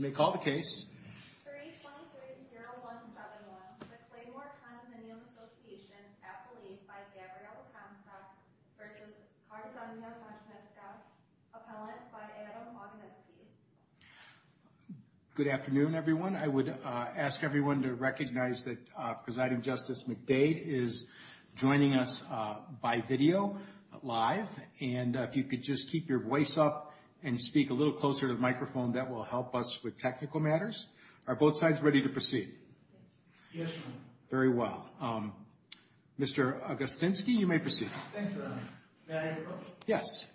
May call the case. 3-2-3-0-1-7-1. The Claymoor Condominium Association Appellee by Gabrielle Comstock v. Karzanya Majewska. Appellant by Adam Oginski. Good afternoon, everyone. I would ask everyone to recognize that Presiding Justice McDade is joining us by video, live. And if you could just keep your voice up and speak a little closer to the microphone, that will help us with technical matters. Are both sides ready to proceed? Yes, Your Honor. Very well. Mr. Oginski, you may proceed. Thank you, Your Honor. May I introduce myself? Yes.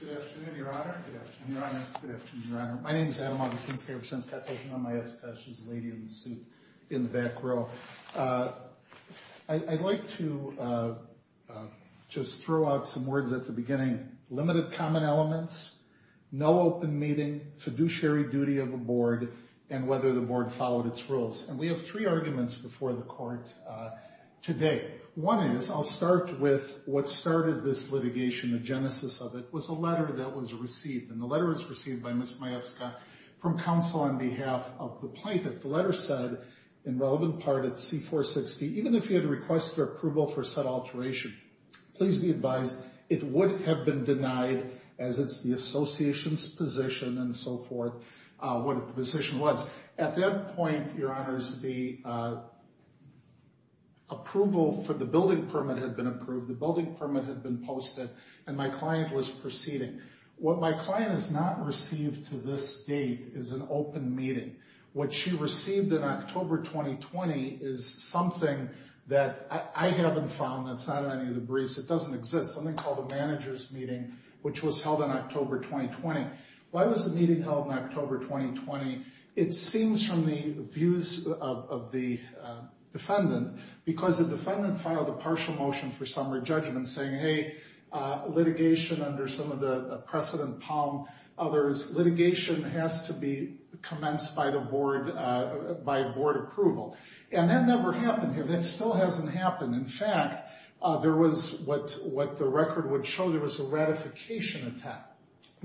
Good afternoon, Your Honor. Good afternoon, Your Honor. Good afternoon, Your Honor. My name is Adam Oginski. I represent Petitioner Majewska. She's the lady in the suit in the back row. I'd like to just throw out some words at the beginning. Limited common elements, no open meeting, fiduciary duty of the Board, and whether the Board followed its rules. And we have three arguments before the Court today. One is, I'll start with what started this litigation, the genesis of it, was a letter that was received. And the letter was received by Ms. Majewska from counsel on behalf of the plaintiff. The letter said, in relevant part, at C-460, even if you had requested approval for said alteration, please be advised, it would have been denied as it's the association's position and so forth, what the position was. At that point, Your Honors, the approval for the building permit had been approved, the building permit had been posted, and my client was proceeding. What my client has not received to this date is an open meeting. What she received in October 2020 is something that I haven't found, that's not in any of the briefs. It doesn't exist. Something called a manager's meeting, which was held in October 2020. Why was the meeting held in October 2020? It seems from the views of the defendant, because the defendant filed a partial motion for summary judgment saying, hey, litigation under some of the precedent palm, others, litigation has to be commenced by the Board, by Board approval. And that never happened here. That still hasn't happened. In fact, there was what the record would show, there was a ratification attack.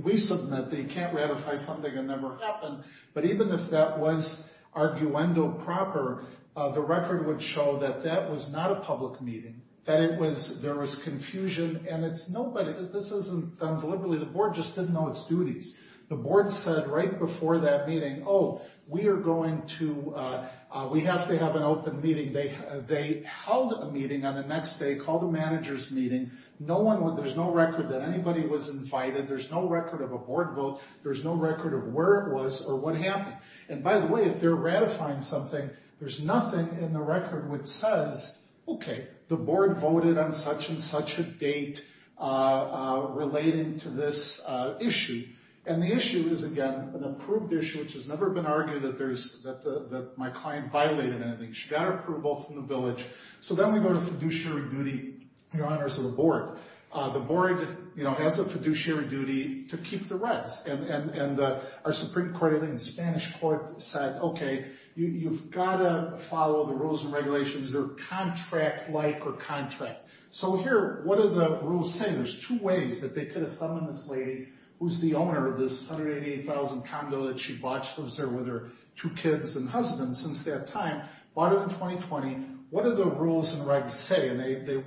We submit that you can't ratify something that never happened, but even if that was arguendo proper, the record would show that that was not a public meeting, that there was confusion, and it's nobody, this isn't done deliberately, the Board just didn't know its duties. The Board said right before that meeting, oh, we are going to, we have to have an open meeting. They held a meeting on the next day, called a manager's meeting, no one, there's no record that anybody was invited, there's no record of a Board vote, there's no record of where it was or what happened. And by the way, if they're ratifying something, there's nothing in the record which says, okay, the Board voted on such and such a date relating to this issue. And the issue is, again, an approved issue, which has never been argued that there's, that my client violated anything, she got approval from the village. So then we go to fiduciary duty in honors of the Board. The Board has a fiduciary duty to keep the rats, and our Supreme Court, I think the Spanish Court, said, okay, you've got to follow the rules and regulations that are contract-like or contract. So here, what are the rules saying? There's two ways that they could have summoned this lady who's the owner of this 188,000 condo that she bought, she lives there with her two kids and husband since that time, bought it in 2020. What do the rules and regs say? And they,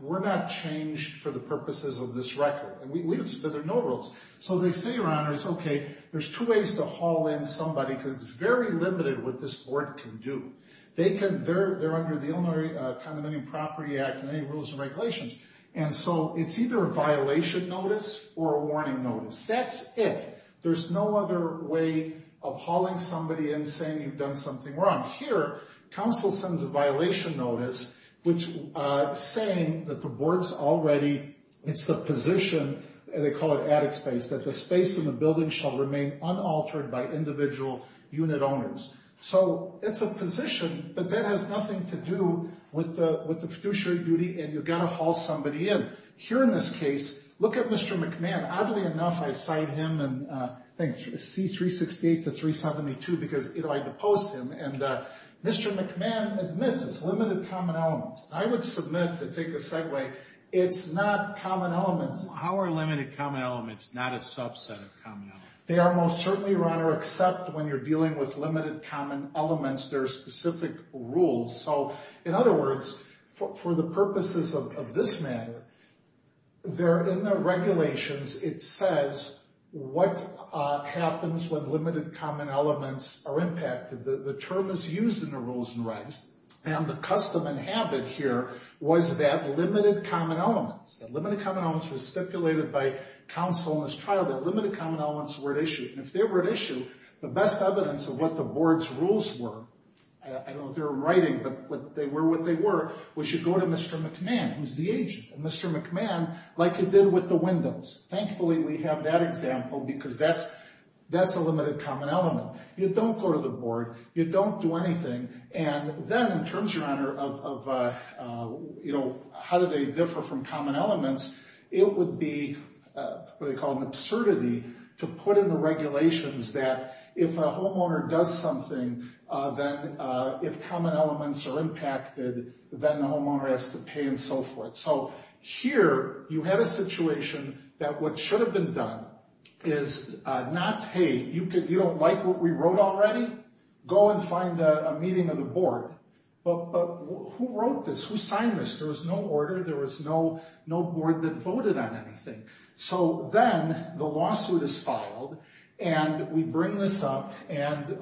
we're not changed for the purposes of this record. And we, there are no rules. So they say, your honors, okay, there's two ways to haul in somebody, because it's very limited what this Board can do. They can, they're under the Illinois Condominium Property Act and any rules and regulations. And so it's either a violation notice or a warning notice. That's it. There's no other way of hauling somebody in saying you've done something wrong. Here, counsel sends a violation notice saying that the Board's already, it's the position, and they call it attic space, that the space in the building shall remain unaltered by individual unit owners. So it's a position, but that has nothing to do with the fiduciary duty, and you've got to haul somebody in. Here in this case, look at Mr. McMahon. Oddly enough, I cite him in C-368 to 372 because I deposed him, and Mr. McMahon admits it's limited common elements. I would submit to take a segue, it's not common elements. How are limited common elements not a subset of common elements? They are most certainly, Your Honor, except when you're dealing with limited common elements, there are specific rules. So in other words, for the purposes of this matter, they're in the regulations, it says what happens when limited common elements are impacted. The term is used in the rules and rights, and the custom and habit here was that limited common elements, that limited common elements were stipulated by counsel in this trial, that limited common elements were at issue, and if they were at issue, the best evidence of what the Board's rules were, I don't know if they're in writing, but they were what they were, was you go to Mr. McMahon, who's the agent, and Mr. McMahon, like you did with the windows. Thankfully, we have that example because that's a limited common element. You don't go to the Board, you don't do anything, and then in terms, Your Honor, of how do they differ from common elements, it would be what they call an absurdity to put in the regulations that if a homeowner does something, then if common elements are impacted, then the homeowner has to pay and so forth. So here, you have a situation that what should have been done is not, hey, you don't like what we wrote already? Go and find a meeting of the Board. But who wrote this? Who signed this? There was no order, there was no Board that voted on anything. So then, the lawsuit is filed, and we bring this up, and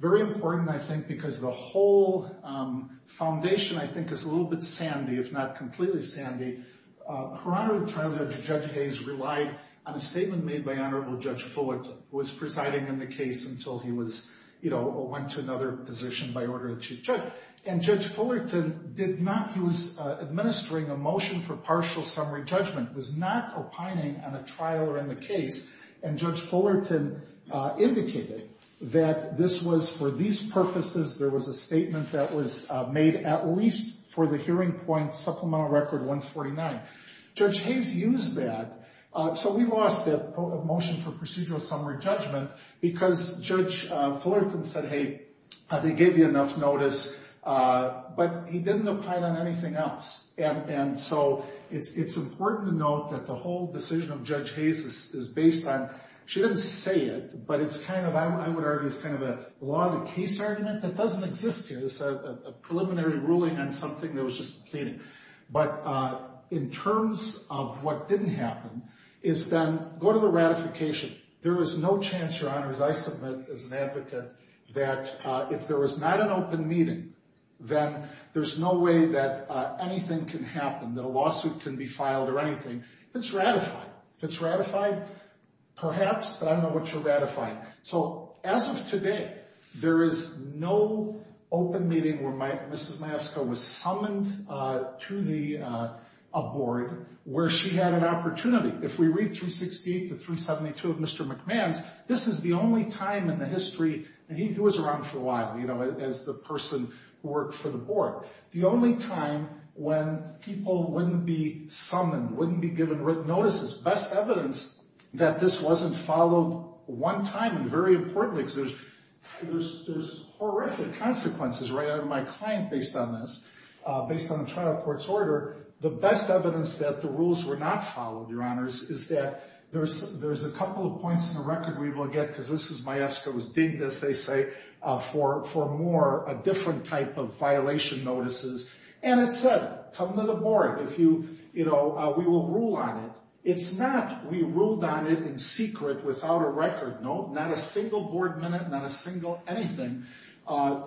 very important, I think, because the whole foundation, I think, is a little bit sandy, if not completely sandy. Your Honor, the trial judge, Judge Hayes, relied on a statement made by Honorable Judge Fullerton, who was presiding in the case until he went to another position by order of the Chief Judge. And Judge Fullerton did not, he was administering a motion for partial summary judgment, was not opining on a trial or in the case, and Judge Fullerton indicated that this was, for these purposes, there was a statement that was made at least for the hearing point supplemental record 149. Judge Hayes used that, so we lost that motion for procedural summary judgment because Judge Fullerton said, hey, they gave you enough notice, but he didn't opine on anything else. And so, it's important to note that the whole decision of Judge Hayes is based on, she didn't say it, but it's kind of, I would argue, it's kind of a law of the case argument that doesn't exist here. But in terms of what didn't happen is then, go to the ratification. There is no chance, Your Honor, as I submit as an advocate, that if there was not an open meeting, then there's no way that anything can happen, that a lawsuit can be filed or anything that's ratified. If it's ratified, perhaps, but I don't know what you're ratifying. So, as of today, there is no open meeting where Mrs. Mayeska was summoned to the board where she had an opportunity. If we read 368 to 372 of Mr. McMahon's, this is the only time in the history, and he was around for a while, you know, as the person who worked for the board, the only time when people wouldn't be summoned, wouldn't be given written notices. Best evidence that this wasn't followed one time, and very importantly, because there's horrific consequences, right? I have my client based on this, based on the trial court's order. The best evidence that the rules were not followed, Your Honors, is that there's a couple of points in the record we will get, because this is Mayeska was dinged, as they say, for more, a different type of violation notices. And it said, come to the board, if you, you know, we will rule on it. It's not we ruled on it in secret without a record. No, not a single board minute, not a single anything,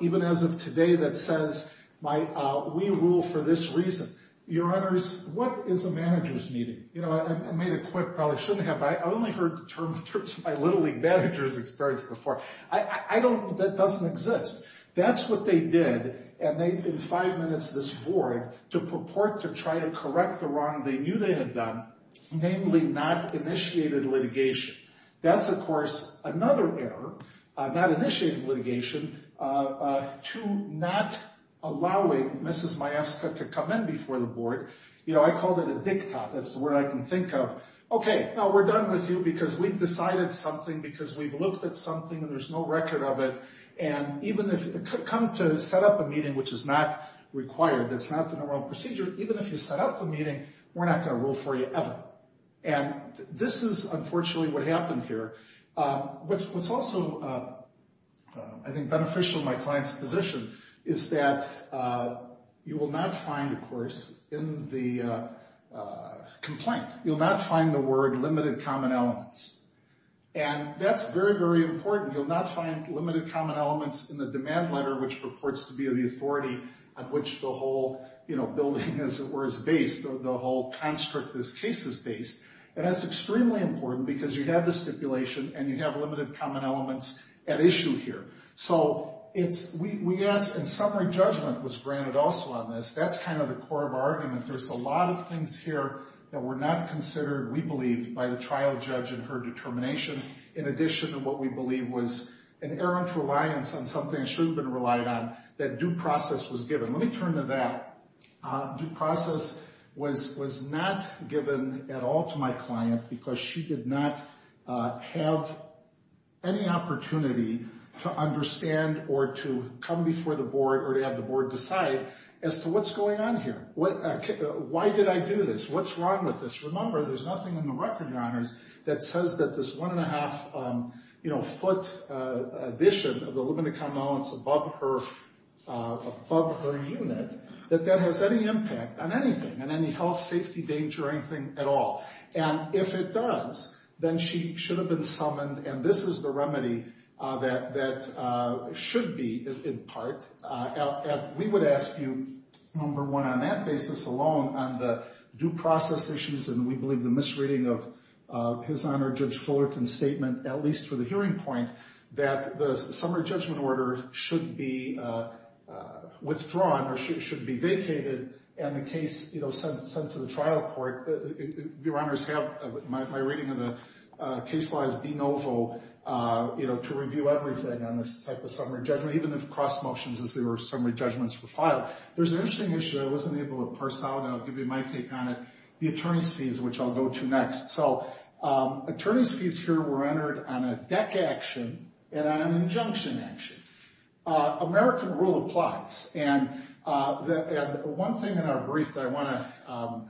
even as of today, that says we rule for this reason. Your Honors, what is a manager's meeting? You know, I made a quick, probably shouldn't have, but I've only heard the term in terms of my Little League managers experience before. I don't, that doesn't exist. That's what they did, and they, in five minutes, this board, to purport to try to correct the wrong they knew they had done, namely not initiated litigation. That's, of course, another error, not initiated litigation, to not allowing Mrs. Mayeska to come in before the board. You know, I called it a diktat, that's the word I can think of. Okay, now we're done with you because we've decided something because we've looked at something and there's no record of it. And even if, come to set up a meeting which is not required, that's not the normal procedure, even if you set up a meeting, we're not going to rule for you ever. And this is, unfortunately, what happened here. What's also, I think, beneficial in my client's position is that you will not find, of course, in the complaint, you'll not find the word limited common elements. And that's very, very important. You'll not find limited common elements in the demand letter, which purports to be of the authority on which the whole, you know, building is, or is based, the whole construct of this case is based. And that's extremely important because you have the stipulation and you have limited common elements at issue here. So it's, we asked, and summary judgment was granted also on this. That's kind of the core of our argument. There's a lot of things here that were not considered, we believe, by the trial judge in her determination, in addition to what we believe was an errant reliance on something it should have been relied on, that due process was given. Let me turn to that. Due process was not given at all to my client because she did not have any opportunity to understand or to come before the board or to have the board decide as to what's going on here. Why did I do this? What's wrong with this? That that has any impact on anything, on any health, safety, danger, anything at all. And if it does, then she should have been summoned, and this is the remedy that should be, in part. We would ask you, number one, on that basis alone, on the due process issues, and we believe the misreading of His Honor Judge Fullerton's statement, at least for the hearing point, that the summary judgment order should be withdrawn or should be vacated and the case sent to the trial court. Your Honors, my reading of the case law is de novo, you know, to review everything on this type of summary judgment, even if cross motions as they were summary judgments were filed. There's an interesting issue I wasn't able to parse out, and I'll give you my take on it, the attorney's fees, which I'll go to next. So attorney's fees here were entered on a deck action and on an injunction action. American rule applies, and one thing in our brief that I want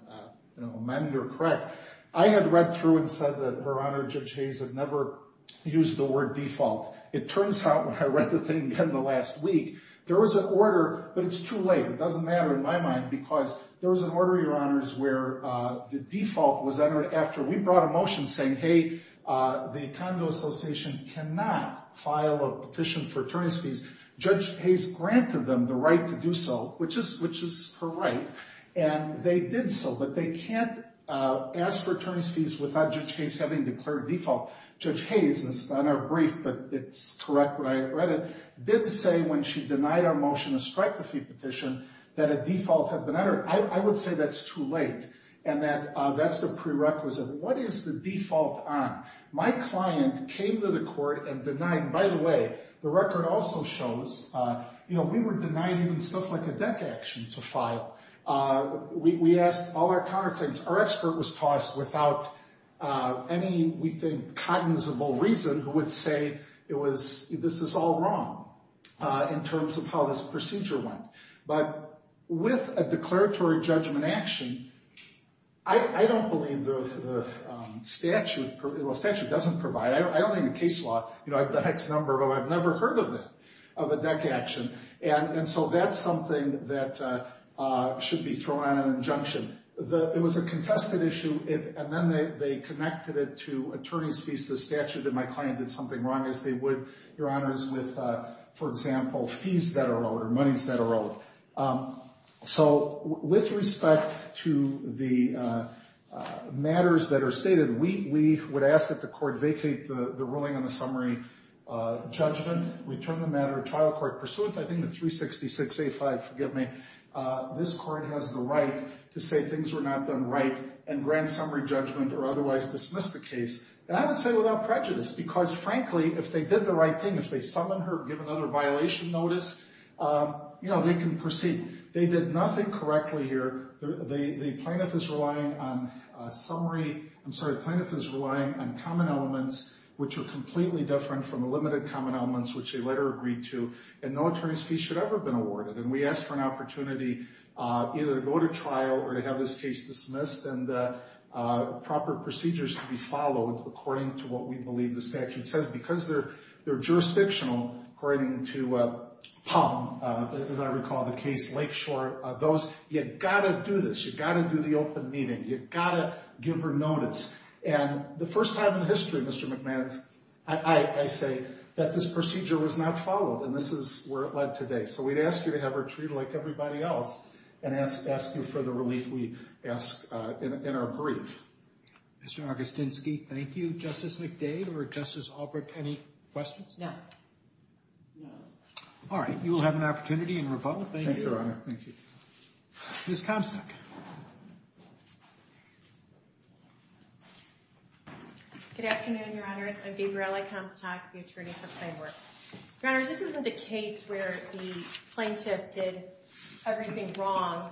to amend or correct, I had read through and said that Her Honor Judge Hayes had never used the word default. It turns out when I read the thing again the last week, there was an order, but it's too late. It doesn't matter in my mind because there was an order, Your Honors, where the default was entered after we brought a motion saying, hey, the Congo Association cannot file a petition for attorney's fees. Judge Hayes granted them the right to do so, which is her right, and they did so, but they can't ask for attorney's fees without Judge Hayes having declared default. Judge Hayes, it's not in our brief, but it's correct when I read it, did say when she denied our motion to strike the fee petition that a default had been entered. I would say that's too late and that that's the prerequisite. What is the default on? My client came to the court and denied. By the way, the record also shows, you know, we were denied even stuff like a deck action to file. We asked all our counterclaims. Our expert was tossed without any, we think, cognizable reason who would say this is all wrong in terms of how this procedure went. But with a declaratory judgment action, I don't believe the statute doesn't provide it. I don't think the case law, you know, I have the hex number, but I've never heard of it, of a deck action. And so that's something that should be thrown on an injunction. It was a contested issue, and then they connected it to attorney's fees. The statute did my client did something wrong, as they would, Your Honors, with, for example, fees that are owed or monies that are owed. So with respect to the matters that are stated, we would ask that the court vacate the ruling on the summary judgment, return the matter to trial court pursuant, I think the 366A5, forgive me, this court has the right to say things were not done right and grant summary judgment or otherwise dismiss the case. And I would say without prejudice, because frankly, if they did the right thing, if they summon her or give another violation notice, you know, they can proceed. They did nothing correctly here. The plaintiff is relying on summary, I'm sorry, the plaintiff is relying on common elements, which are completely different from the limited common elements, which they later agreed to, and no attorney's fee should ever have been awarded. And we ask for an opportunity either to go to trial or to have this case dismissed and proper procedures to be followed according to what we believe the statute says. And because they're jurisdictional, according to Palm, as I recall the case, Lakeshore, you've got to do this, you've got to do the open meeting, you've got to give her notice. And the first time in the history, Mr. McMahon, I say that this procedure was not followed, and this is where it led today. So we'd ask you to have her treated like everybody else and ask you for the relief we ask in our brief. Mr. Augustinsky, thank you. Justice McDade or Justice Albrecht, any questions? No. No. All right. You will have an opportunity in rebuttal. Thank you. Thank you, Your Honor. Thank you. Ms. Comstock. Good afternoon, Your Honors. I'm Gabriella Comstock, the attorney for Plain Work. Your Honors, this isn't a case where the plaintiff did everything wrong.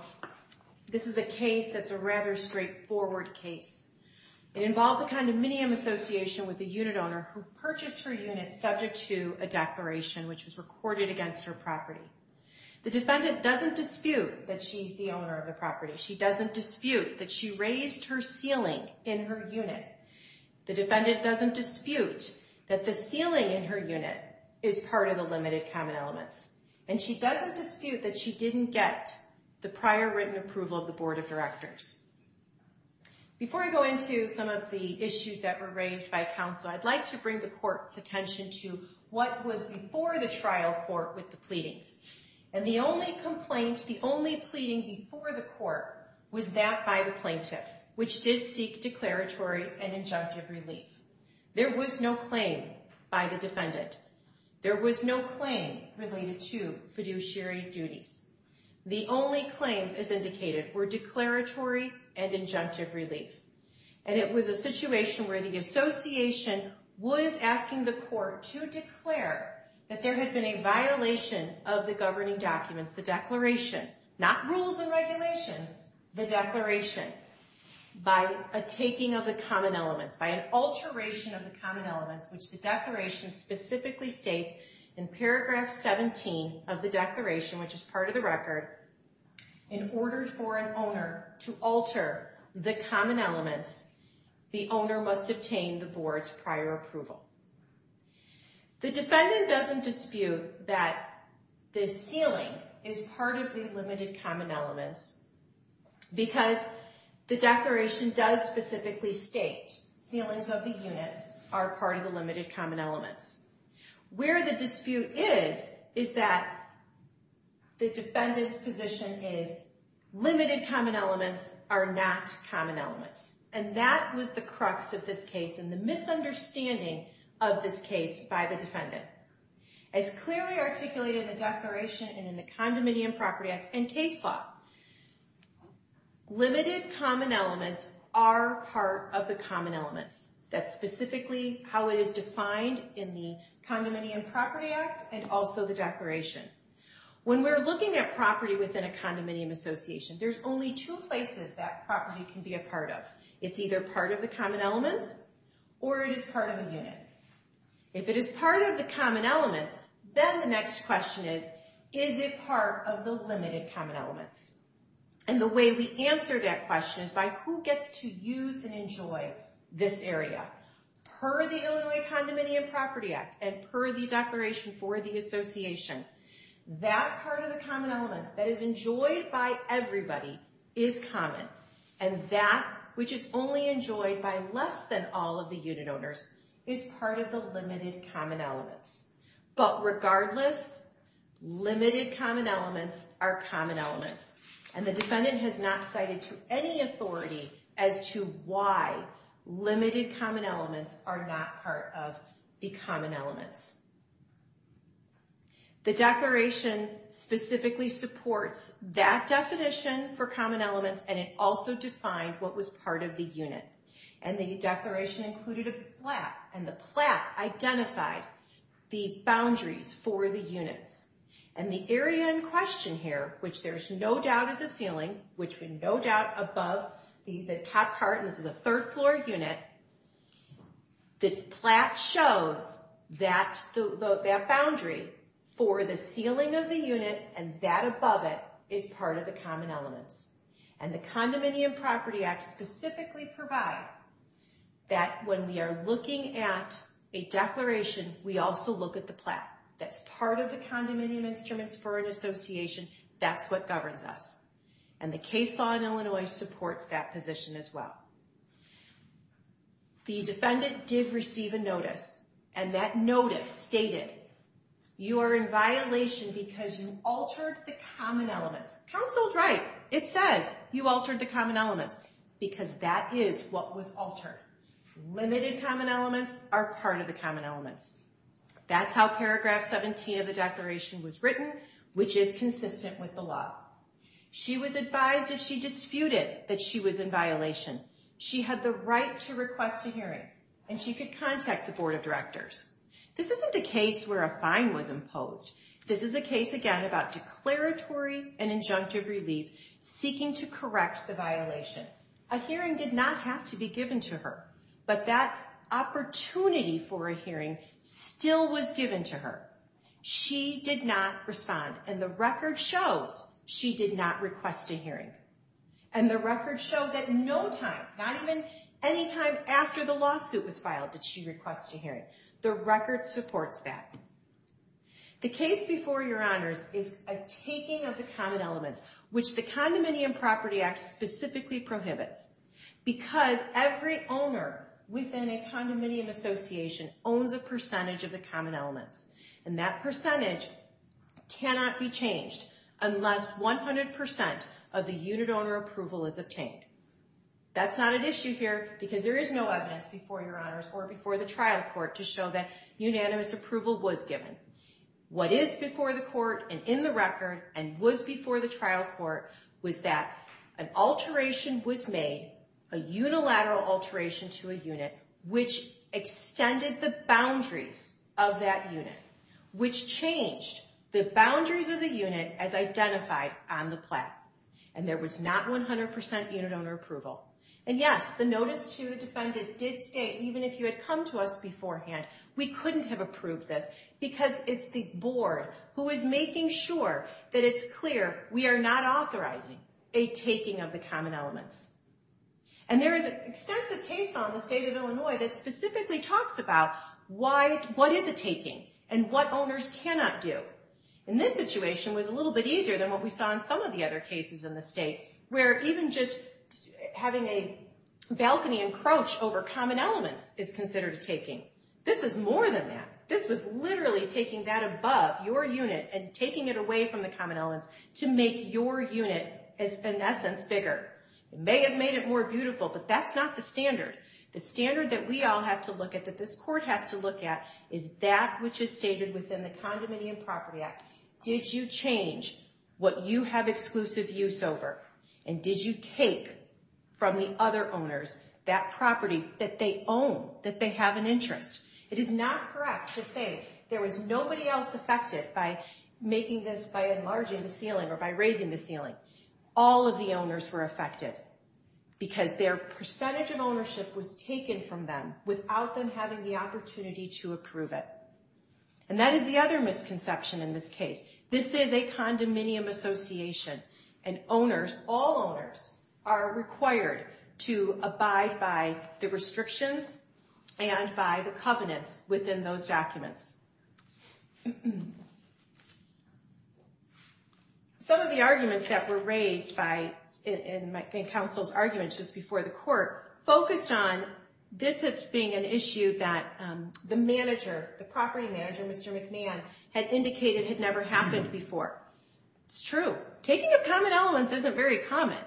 This is a case that's a rather straightforward case. It involves a condominium association with a unit owner who purchased her unit subject to a declaration, which was recorded against her property. The defendant doesn't dispute that she's the owner of the property. She doesn't dispute that she raised her ceiling in her unit. The defendant doesn't dispute that the ceiling in her unit is part of the limited common elements. And she doesn't dispute that she didn't get the prior written approval of the Board of Directors. Before I go into some of the issues that were raised by counsel, I'd like to bring the court's attention to what was before the trial court with the pleadings. And the only complaint, the only pleading before the court was that by the plaintiff, which did seek declaratory and injunctive relief. There was no claim by the defendant. There was no claim related to fiduciary duties. The only claims, as indicated, were declaratory and injunctive relief. And it was a situation where the association was asking the court to declare that there had been a violation of the governing documents, the declaration. Not rules and regulations, the declaration. By a taking of the common elements, by an alteration of the common elements, which the declaration specifically states in paragraph 17 of the declaration, which is part of the record, in order for an owner to alter the common elements, the owner must obtain the board's prior approval. The defendant doesn't dispute that the ceiling is part of the limited common elements because the declaration does specifically state ceilings of the units are part of the limited common elements. Where the dispute is, is that the defendant's position is limited common elements are not common elements. And that was the crux of this case and the misunderstanding of this case by the defendant. As clearly articulated in the declaration and in the Condominium Property Act and case law, limited common elements are part of the common elements. That's specifically how it is defined in the Condominium Property Act and also the declaration. When we're looking at property within a condominium association, there's only two places that property can be a part of. It's either part of the common elements or it is part of a unit. If it is part of the common elements, then the next question is, is it part of the limited common elements? And the way we answer that question is by who gets to use and enjoy this area. Per the Illinois Condominium Property Act and per the declaration for the association, that part of the common elements that is enjoyed by everybody is common. And that which is only enjoyed by less than all of the unit owners is part of the limited common elements. But regardless, limited common elements are common elements. And the defendant has not cited to any authority as to why limited common elements are not part of the common elements. The declaration specifically supports that definition for common elements and it also defined what was part of the unit. And the declaration included a plat. And the plat identified the boundaries for the units. And the area in question here, which there's no doubt is a ceiling, which we no doubt above the top part, and this is a third floor unit, this plat shows that boundary for the ceiling of the unit and that above it is part of the common elements. And the Condominium Property Act specifically provides that when we are looking at a declaration, we also look at the plat. That's part of the condominium instruments for an association. That's what governs us. And the case law in Illinois supports that position as well. The defendant did receive a notice and that notice stated you are in violation because you altered the common elements. Counsel's right, it says you altered the common elements because that is what was altered. Limited common elements are part of the common elements. That's how paragraph 17 of the declaration was written, which is consistent with the law. She was advised if she disputed that she was in violation, she had the right to request a hearing and she could contact the board of directors. This isn't a case where a fine was imposed. This is a case, again, about declaratory and injunctive relief seeking to correct the violation. A hearing did not have to be given to her, but that opportunity for a hearing still was given to her. She did not respond. And the record shows she did not request a hearing. And the record shows at no time, not even any time after the lawsuit was filed, did she request a hearing. The record supports that. The case before your honors is a taking of the common elements, which the Condominium Property Act specifically prohibits because every owner within a condominium association owns a percentage of the common elements. And that percentage cannot be changed unless 100% of the unit owner approval is obtained. That's not an issue here because there is no evidence before your honors or before the trial court to show that unanimous approval was given. What is before the court and in the record and was before the trial court was that an alteration was made, a unilateral alteration to a unit, which extended the boundaries of that unit, which changed the boundaries of the unit as identified on the plat. And there was not 100% unit owner approval. And yes, the notice to the defendant did state, even if you had come to us beforehand, we couldn't have approved this because it's the board who is making sure that it's clear we are not authorizing a taking of the common elements. And there is an extensive case on the state of Illinois that specifically talks about what is a taking and what owners cannot do. And this situation was a little bit easier than what we saw in some of the other cases in the state where even just having a balcony encroach over common elements is considered a taking. This is more than that. This was literally taking that above your unit and taking it away from the common elements to make your unit, in that sense, bigger. It may have made it more beautiful, but that's not the standard. The standard that we all have to look at, that this court has to look at, is that which is stated within the Condominium Property Act. Did you change what you have exclusive use over? And did you take from the other owners that property that they own, that they have an interest? It is not correct to say there was nobody else affected by making this by enlarging the ceiling or by raising the ceiling. All of the owners were affected because their percentage of ownership was taken from them without them having the opportunity to approve it. And that is the other misconception in this case. This is a condominium association, and owners, all owners, are required to abide by the restrictions and by the covenants within those documents. Some of the arguments that were raised in counsel's argument just before the court focused on this being an issue that the property manager, Mr. McMahon, had indicated had never happened before. It's true. Taking of common elements isn't very common.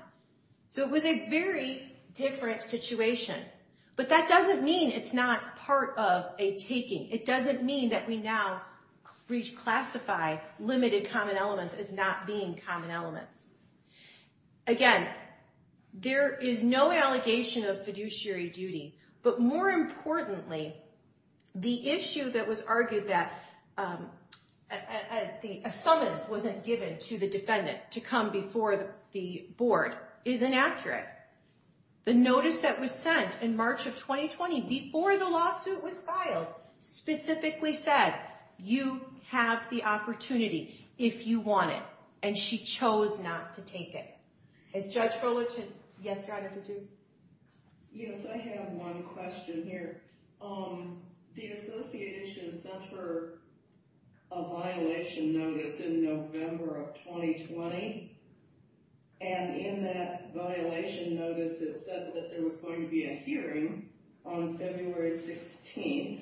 So it was a very different situation. But that doesn't mean it's not part of a taking. It doesn't mean that we now reclassify limited common elements as not being common elements. Again, there is no allegation of fiduciary duty, but more importantly, the issue that was argued that a summons wasn't given to the defendant to come before the board is inaccurate. The notice that was sent in March of 2020 before the lawsuit was filed specifically said, you have the opportunity if you want it, and she chose not to take it. Has Judge Fullerton? Yes, Your Honor, did you? Yes, I have one question here. The association sent her a violation notice in November of 2020. And in that violation notice, it said that there was going to be a hearing on February 16th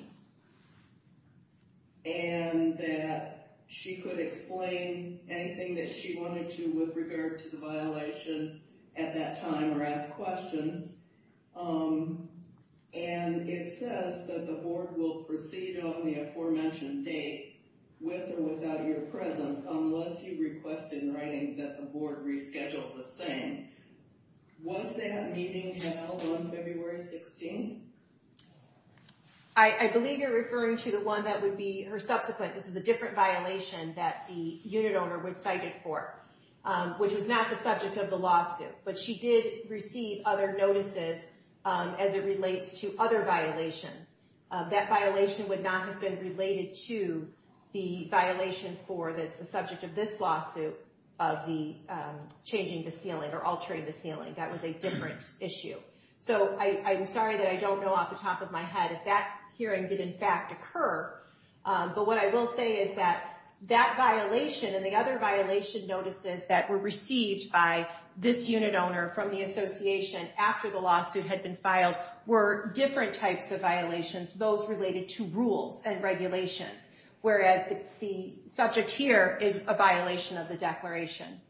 and that she could explain anything that she wanted to with regard to the violation at that time or ask questions. And it says that the board will proceed on the aforementioned date with or without your presence unless you request in writing that the board reschedule the same. Was that meeting held on February 16th? I believe you're referring to the one that would be her subsequent. This was a different violation that the unit owner was cited for, which was not the subject of the lawsuit. But she did receive other notices as it relates to other violations. That violation would not have been related to the violation for the subject of this lawsuit of the changing the ceiling or altering the ceiling. That was a different issue. So I'm sorry that I don't know off the top of my head if that hearing did in fact occur. But what I will say is that that violation and the other violation notices that were received by this unit owner from the association after the lawsuit had been filed were different types of violations, those related to rules and regulations. Whereas the subject here is a violation of the declaration.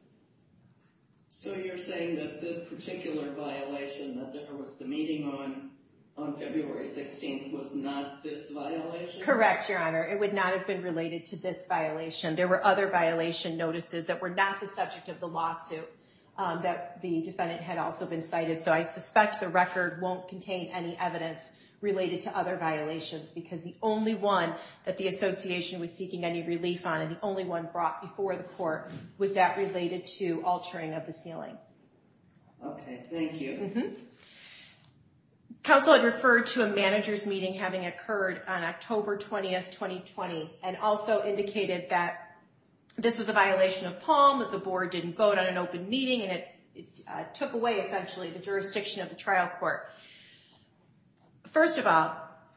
So you're saying that this particular violation that there was the meeting on February 16th was not this violation? Correct, Your Honor. It would not have been related to this violation. There were other violation notices that were not the subject of the lawsuit that the defendant had also been cited. So I suspect the record won't contain any evidence related to other violations because the only one that the association was seeking any relief on and the only one brought before the court was that related to altering of the ceiling. Okay, thank you. Counsel had referred to a manager's meeting having occurred on October 20th, 2020 and also indicated that this was a violation of POM, that the board didn't vote on an open meeting and it took away essentially the jurisdiction of the trial court. First of all,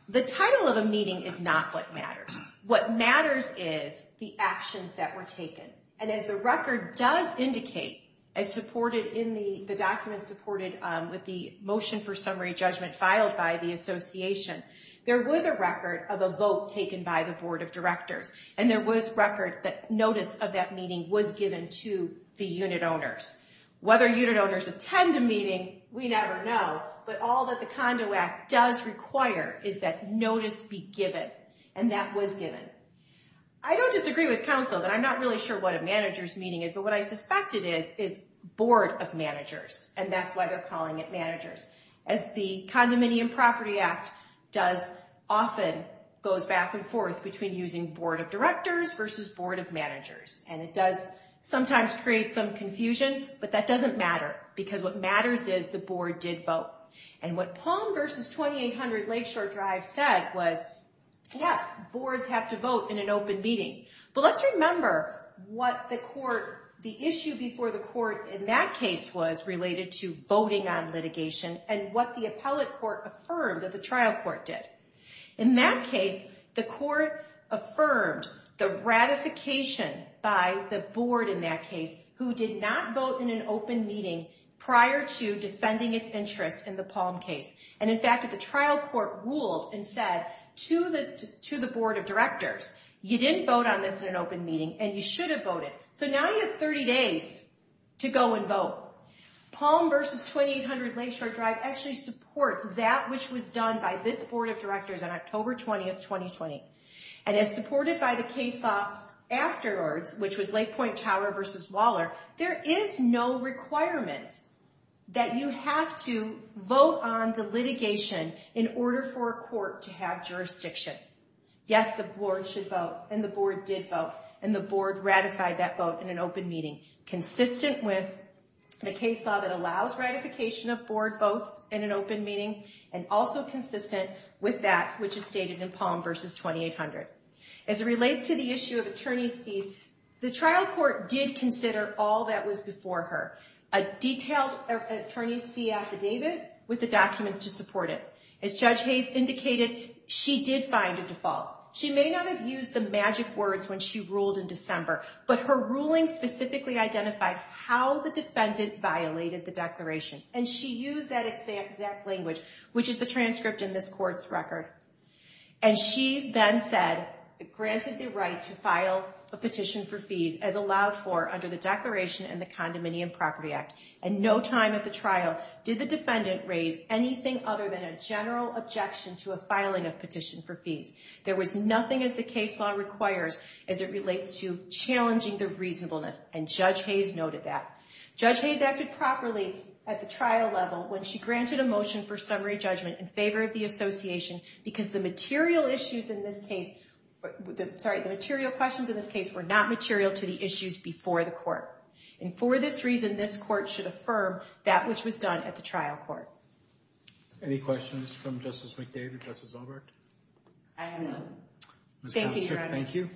the title of a meeting is not what matters. What matters is the actions that were taken. And as the record does indicate, as supported in the documents supported with the motion for summary judgment filed by the association, there was a record of a vote taken by the board of directors and there was record that notice of that meeting was given to the unit owners. Whether unit owners attend a meeting, we never know, but all that the Condo Act does require is that notice be given and that was given. I don't disagree with counsel that I'm not really sure what a manager's meeting is, but what I suspect it is, is board of managers and that's why they're calling it managers. As the Condominium Property Act does often, goes back and forth between using board of directors versus board of managers and it does sometimes create some confusion, but that doesn't matter because what matters is the board did vote. And what POM versus 2800 Lakeshore Drive said was, yes, boards have to vote in an open meeting, but let's remember what the issue before the court in that case was related to voting on litigation and what the appellate court affirmed that the trial court did. In that case, the court affirmed the ratification by the board in that case who did not vote in an open meeting prior to defending its interest in the POM case. to the board of directors, you didn't vote on this in an open meeting and you should have voted. So now you have 30 days to go and vote. POM versus 2800 Lakeshore Drive actually supports that which was done by this board of directors on October 20th, 2020. And as supported by the case law afterwards, which was Lake Point Tower versus Waller, there is no requirement that you have to vote on the litigation in order for a court to have jurisdiction. Yes, the board should vote and the board did vote and the board ratified that vote in an open meeting consistent with the case law that allows ratification of board votes in an open meeting and also consistent with that which is stated in POM versus 2800. As it relates to the issue of attorney's fees, the trial court did consider all that was before her, a detailed attorney's fee affidavit with the documents to support it. As Judge Hayes indicated, she did find a default. She may not have used the magic words when she ruled in December, but her ruling specifically identified how the defendant violated the declaration and she used that exact language, which is the transcript in this court's record. And she then said, granted the right to file a petition for fees as allowed for under the declaration in the Condominium Property Act. At no time at the trial did the defendant raise anything other than a general objection to a filing of petition for fees. There was nothing as the case law requires as it relates to challenging the reasonableness and Judge Hayes noted that. Judge Hayes acted properly at the trial level when she granted a motion for summary judgment in favor of the association because the material issues in this case, sorry, the material questions in this case were not material to the issues before the court. And for this reason, this court should affirm that which was done at the trial court. Any questions from Justice McDavid, Justice Albert? I have none. Thank you, Your Honor. Thank you.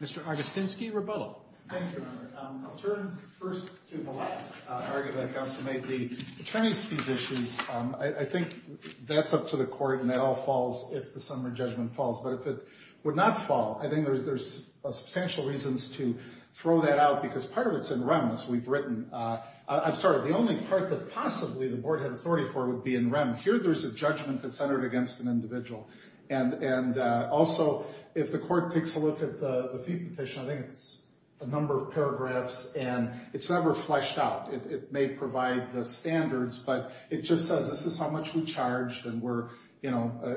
Mr. Argostinsky, rebuttal. Thank you, Your Honor. I'll turn first to the last argument that counsel made. The Chinese fees issues, I think that's up to the court and that all falls if the summary judgment falls. But if it would not fall, I think there's substantial reasons to throw that out because part of it's in rem, as we've written. I'm sorry, the only part that possibly the board had authority for would be in rem. Here, there's a judgment that's centered against an individual. And also, if the court takes a look at the fee petition, I think it's a number of paragraphs and it's never fleshed out. It may provide the standards, but it just says this is how much we charged and we're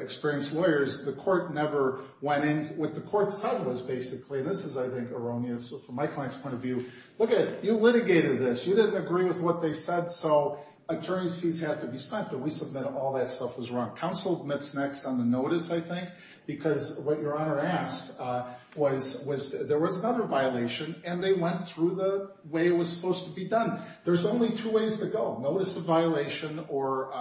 experienced lawyers. The court never went in. What the court said was basically, and this is, I think, erroneous from my client's point of view, look at it. You litigated this. You didn't agree with what they said, so attorney's fees had to be spent, but we submitted all that stuff was wrong. Counsel admits next on the notice, I think, because what Your Honor asked was there was another violation and they went through the way it was supposed to be done. There's only two ways to go, notice of violation or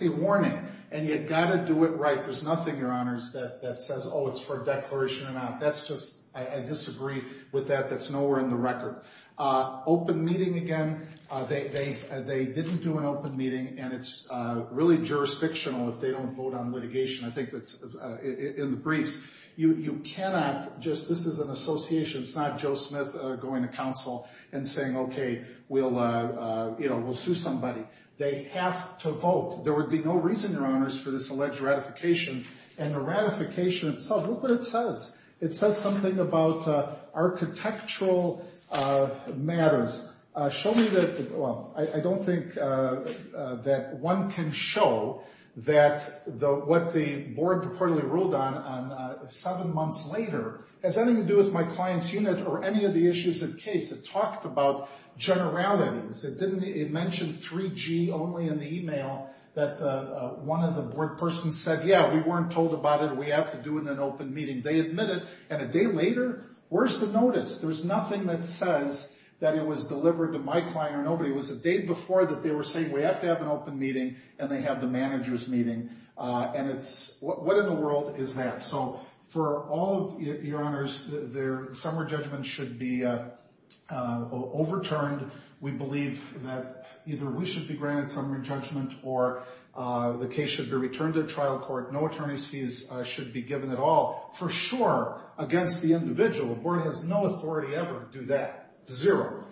a warning. And you've got to do it right. There's nothing, Your Honors, that says, oh, it's for a declaration amount. That's just, I disagree with that. That's nowhere in the record. Open meeting again. They didn't do an open meeting and it's really jurisdictional if they don't vote on litigation. I think that's in the briefs. You cannot just, this is an association, it's not Joe Smith going to counsel and saying, okay, we'll sue somebody. They have to vote. There would be no reason, Your Honors, for this alleged ratification and the ratification itself, look what it says. It says something about architectural matters. Show me the, well, I don't think that one can show that what the board reportedly ruled on seven months later has anything to do with my client's unit or any of the issues of case. It talked about generalities. It mentioned 3G only in the email that one of the board persons said, yeah, we weren't told about it and we have to do it in an open meeting. They admit it and a day later, where's the notice? There's nothing that says that it was delivered to my client or nobody. It was the day before that they were saying we have to have an open meeting and they have the manager's meeting and it's, what in the world is that? So for all of, Your Honors, their summary judgment should be overturned. We believe that either we should be granted summary judgment or the case should be returned to trial court. No attorney's fees should be given at all for sure against the individual. The board has no authority ever to do that. Zero.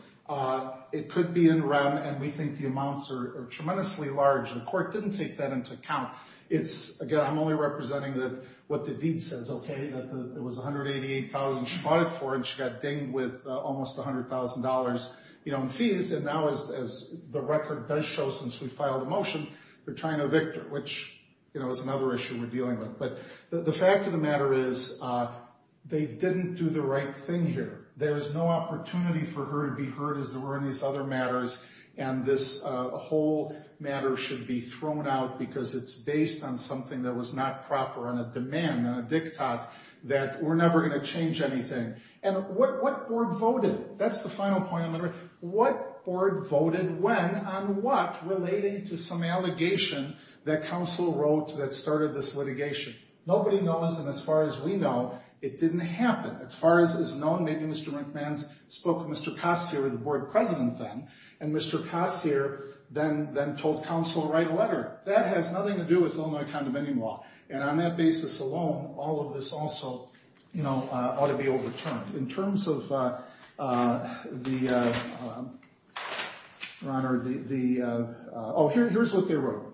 It could be in rem and we think the amounts are tremendously large. The court didn't take that into account. It's, again, I'm only representing what the deed says, okay, that it was $188,000 she bought it for and she got dinged with almost $100,000 in fees and now as the record does show since we filed a motion, they're trying to evict her, which is another issue we're dealing with. But the fact of the matter is they didn't do the right thing here. There's no opportunity for her to be heard as there were in these other matters and this whole matter should be thrown out because it's based on something that was not proper on a demand, on a diktat, that we're never going to change anything. And what board voted? That's the final point. What board voted when on what relating to some allegation that counsel wrote that started this litigation? Nobody knows and as far as we know, it didn't happen. As far as is known, maybe Mr. McMahon spoke to Mr. Cossier, the board president then, and Mr. Cossier then told counsel to write a letter. That has nothing to do with Illinois Condemning Law and on that basis alone, all of this also ought to be overturned. In terms of the, your honor, the, oh, here's what they wrote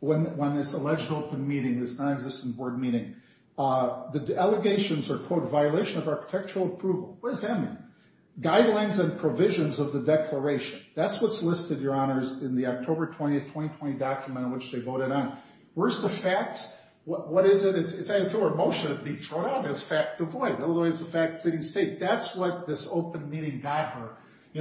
when this alleged open meeting, this non-existent board meeting, the allegations are, quote, violation of architectural approval. What does that mean? Guidelines and provisions of the declaration. That's what's listed, your honors, in the October 20th, 2020 document in which they voted on. Where's the facts? What is it? It's either through a motion to be thrown out as fact or void. Illinois is a fact pleading state. That's what this open meeting got her.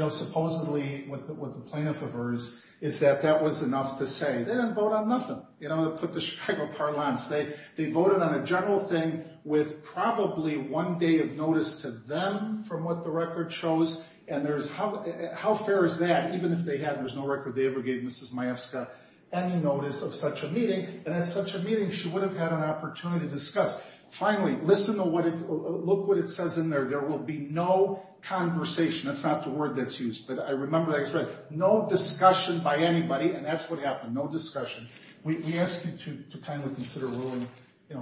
Supposedly what the plaintiff of hers is that that was enough to say. They didn't vote on nothing. They put the Chicago parlance. They voted on a general thing with probably one day of notice to them from what the record shows and there's, how fair is that? Even if they had, there's no record they ever gave Mrs. Majewska any notice of such a meeting and at such a meeting, she would have had an opportunity to discuss. Finally, listen to what it, look what it says in there. There will be no conversation. That's not the word that's used, but I remember that expression. No discussion by anybody and that's what happened. No discussion. We ask you to kindly consider ruling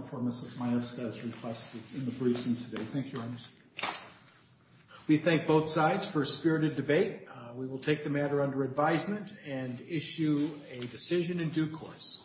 for Mrs. Majewska as requested in the briefing today. Thank you, your honors. We thank both sides for a spirited debate. We will take the matter under advisement and issue a decision in due course.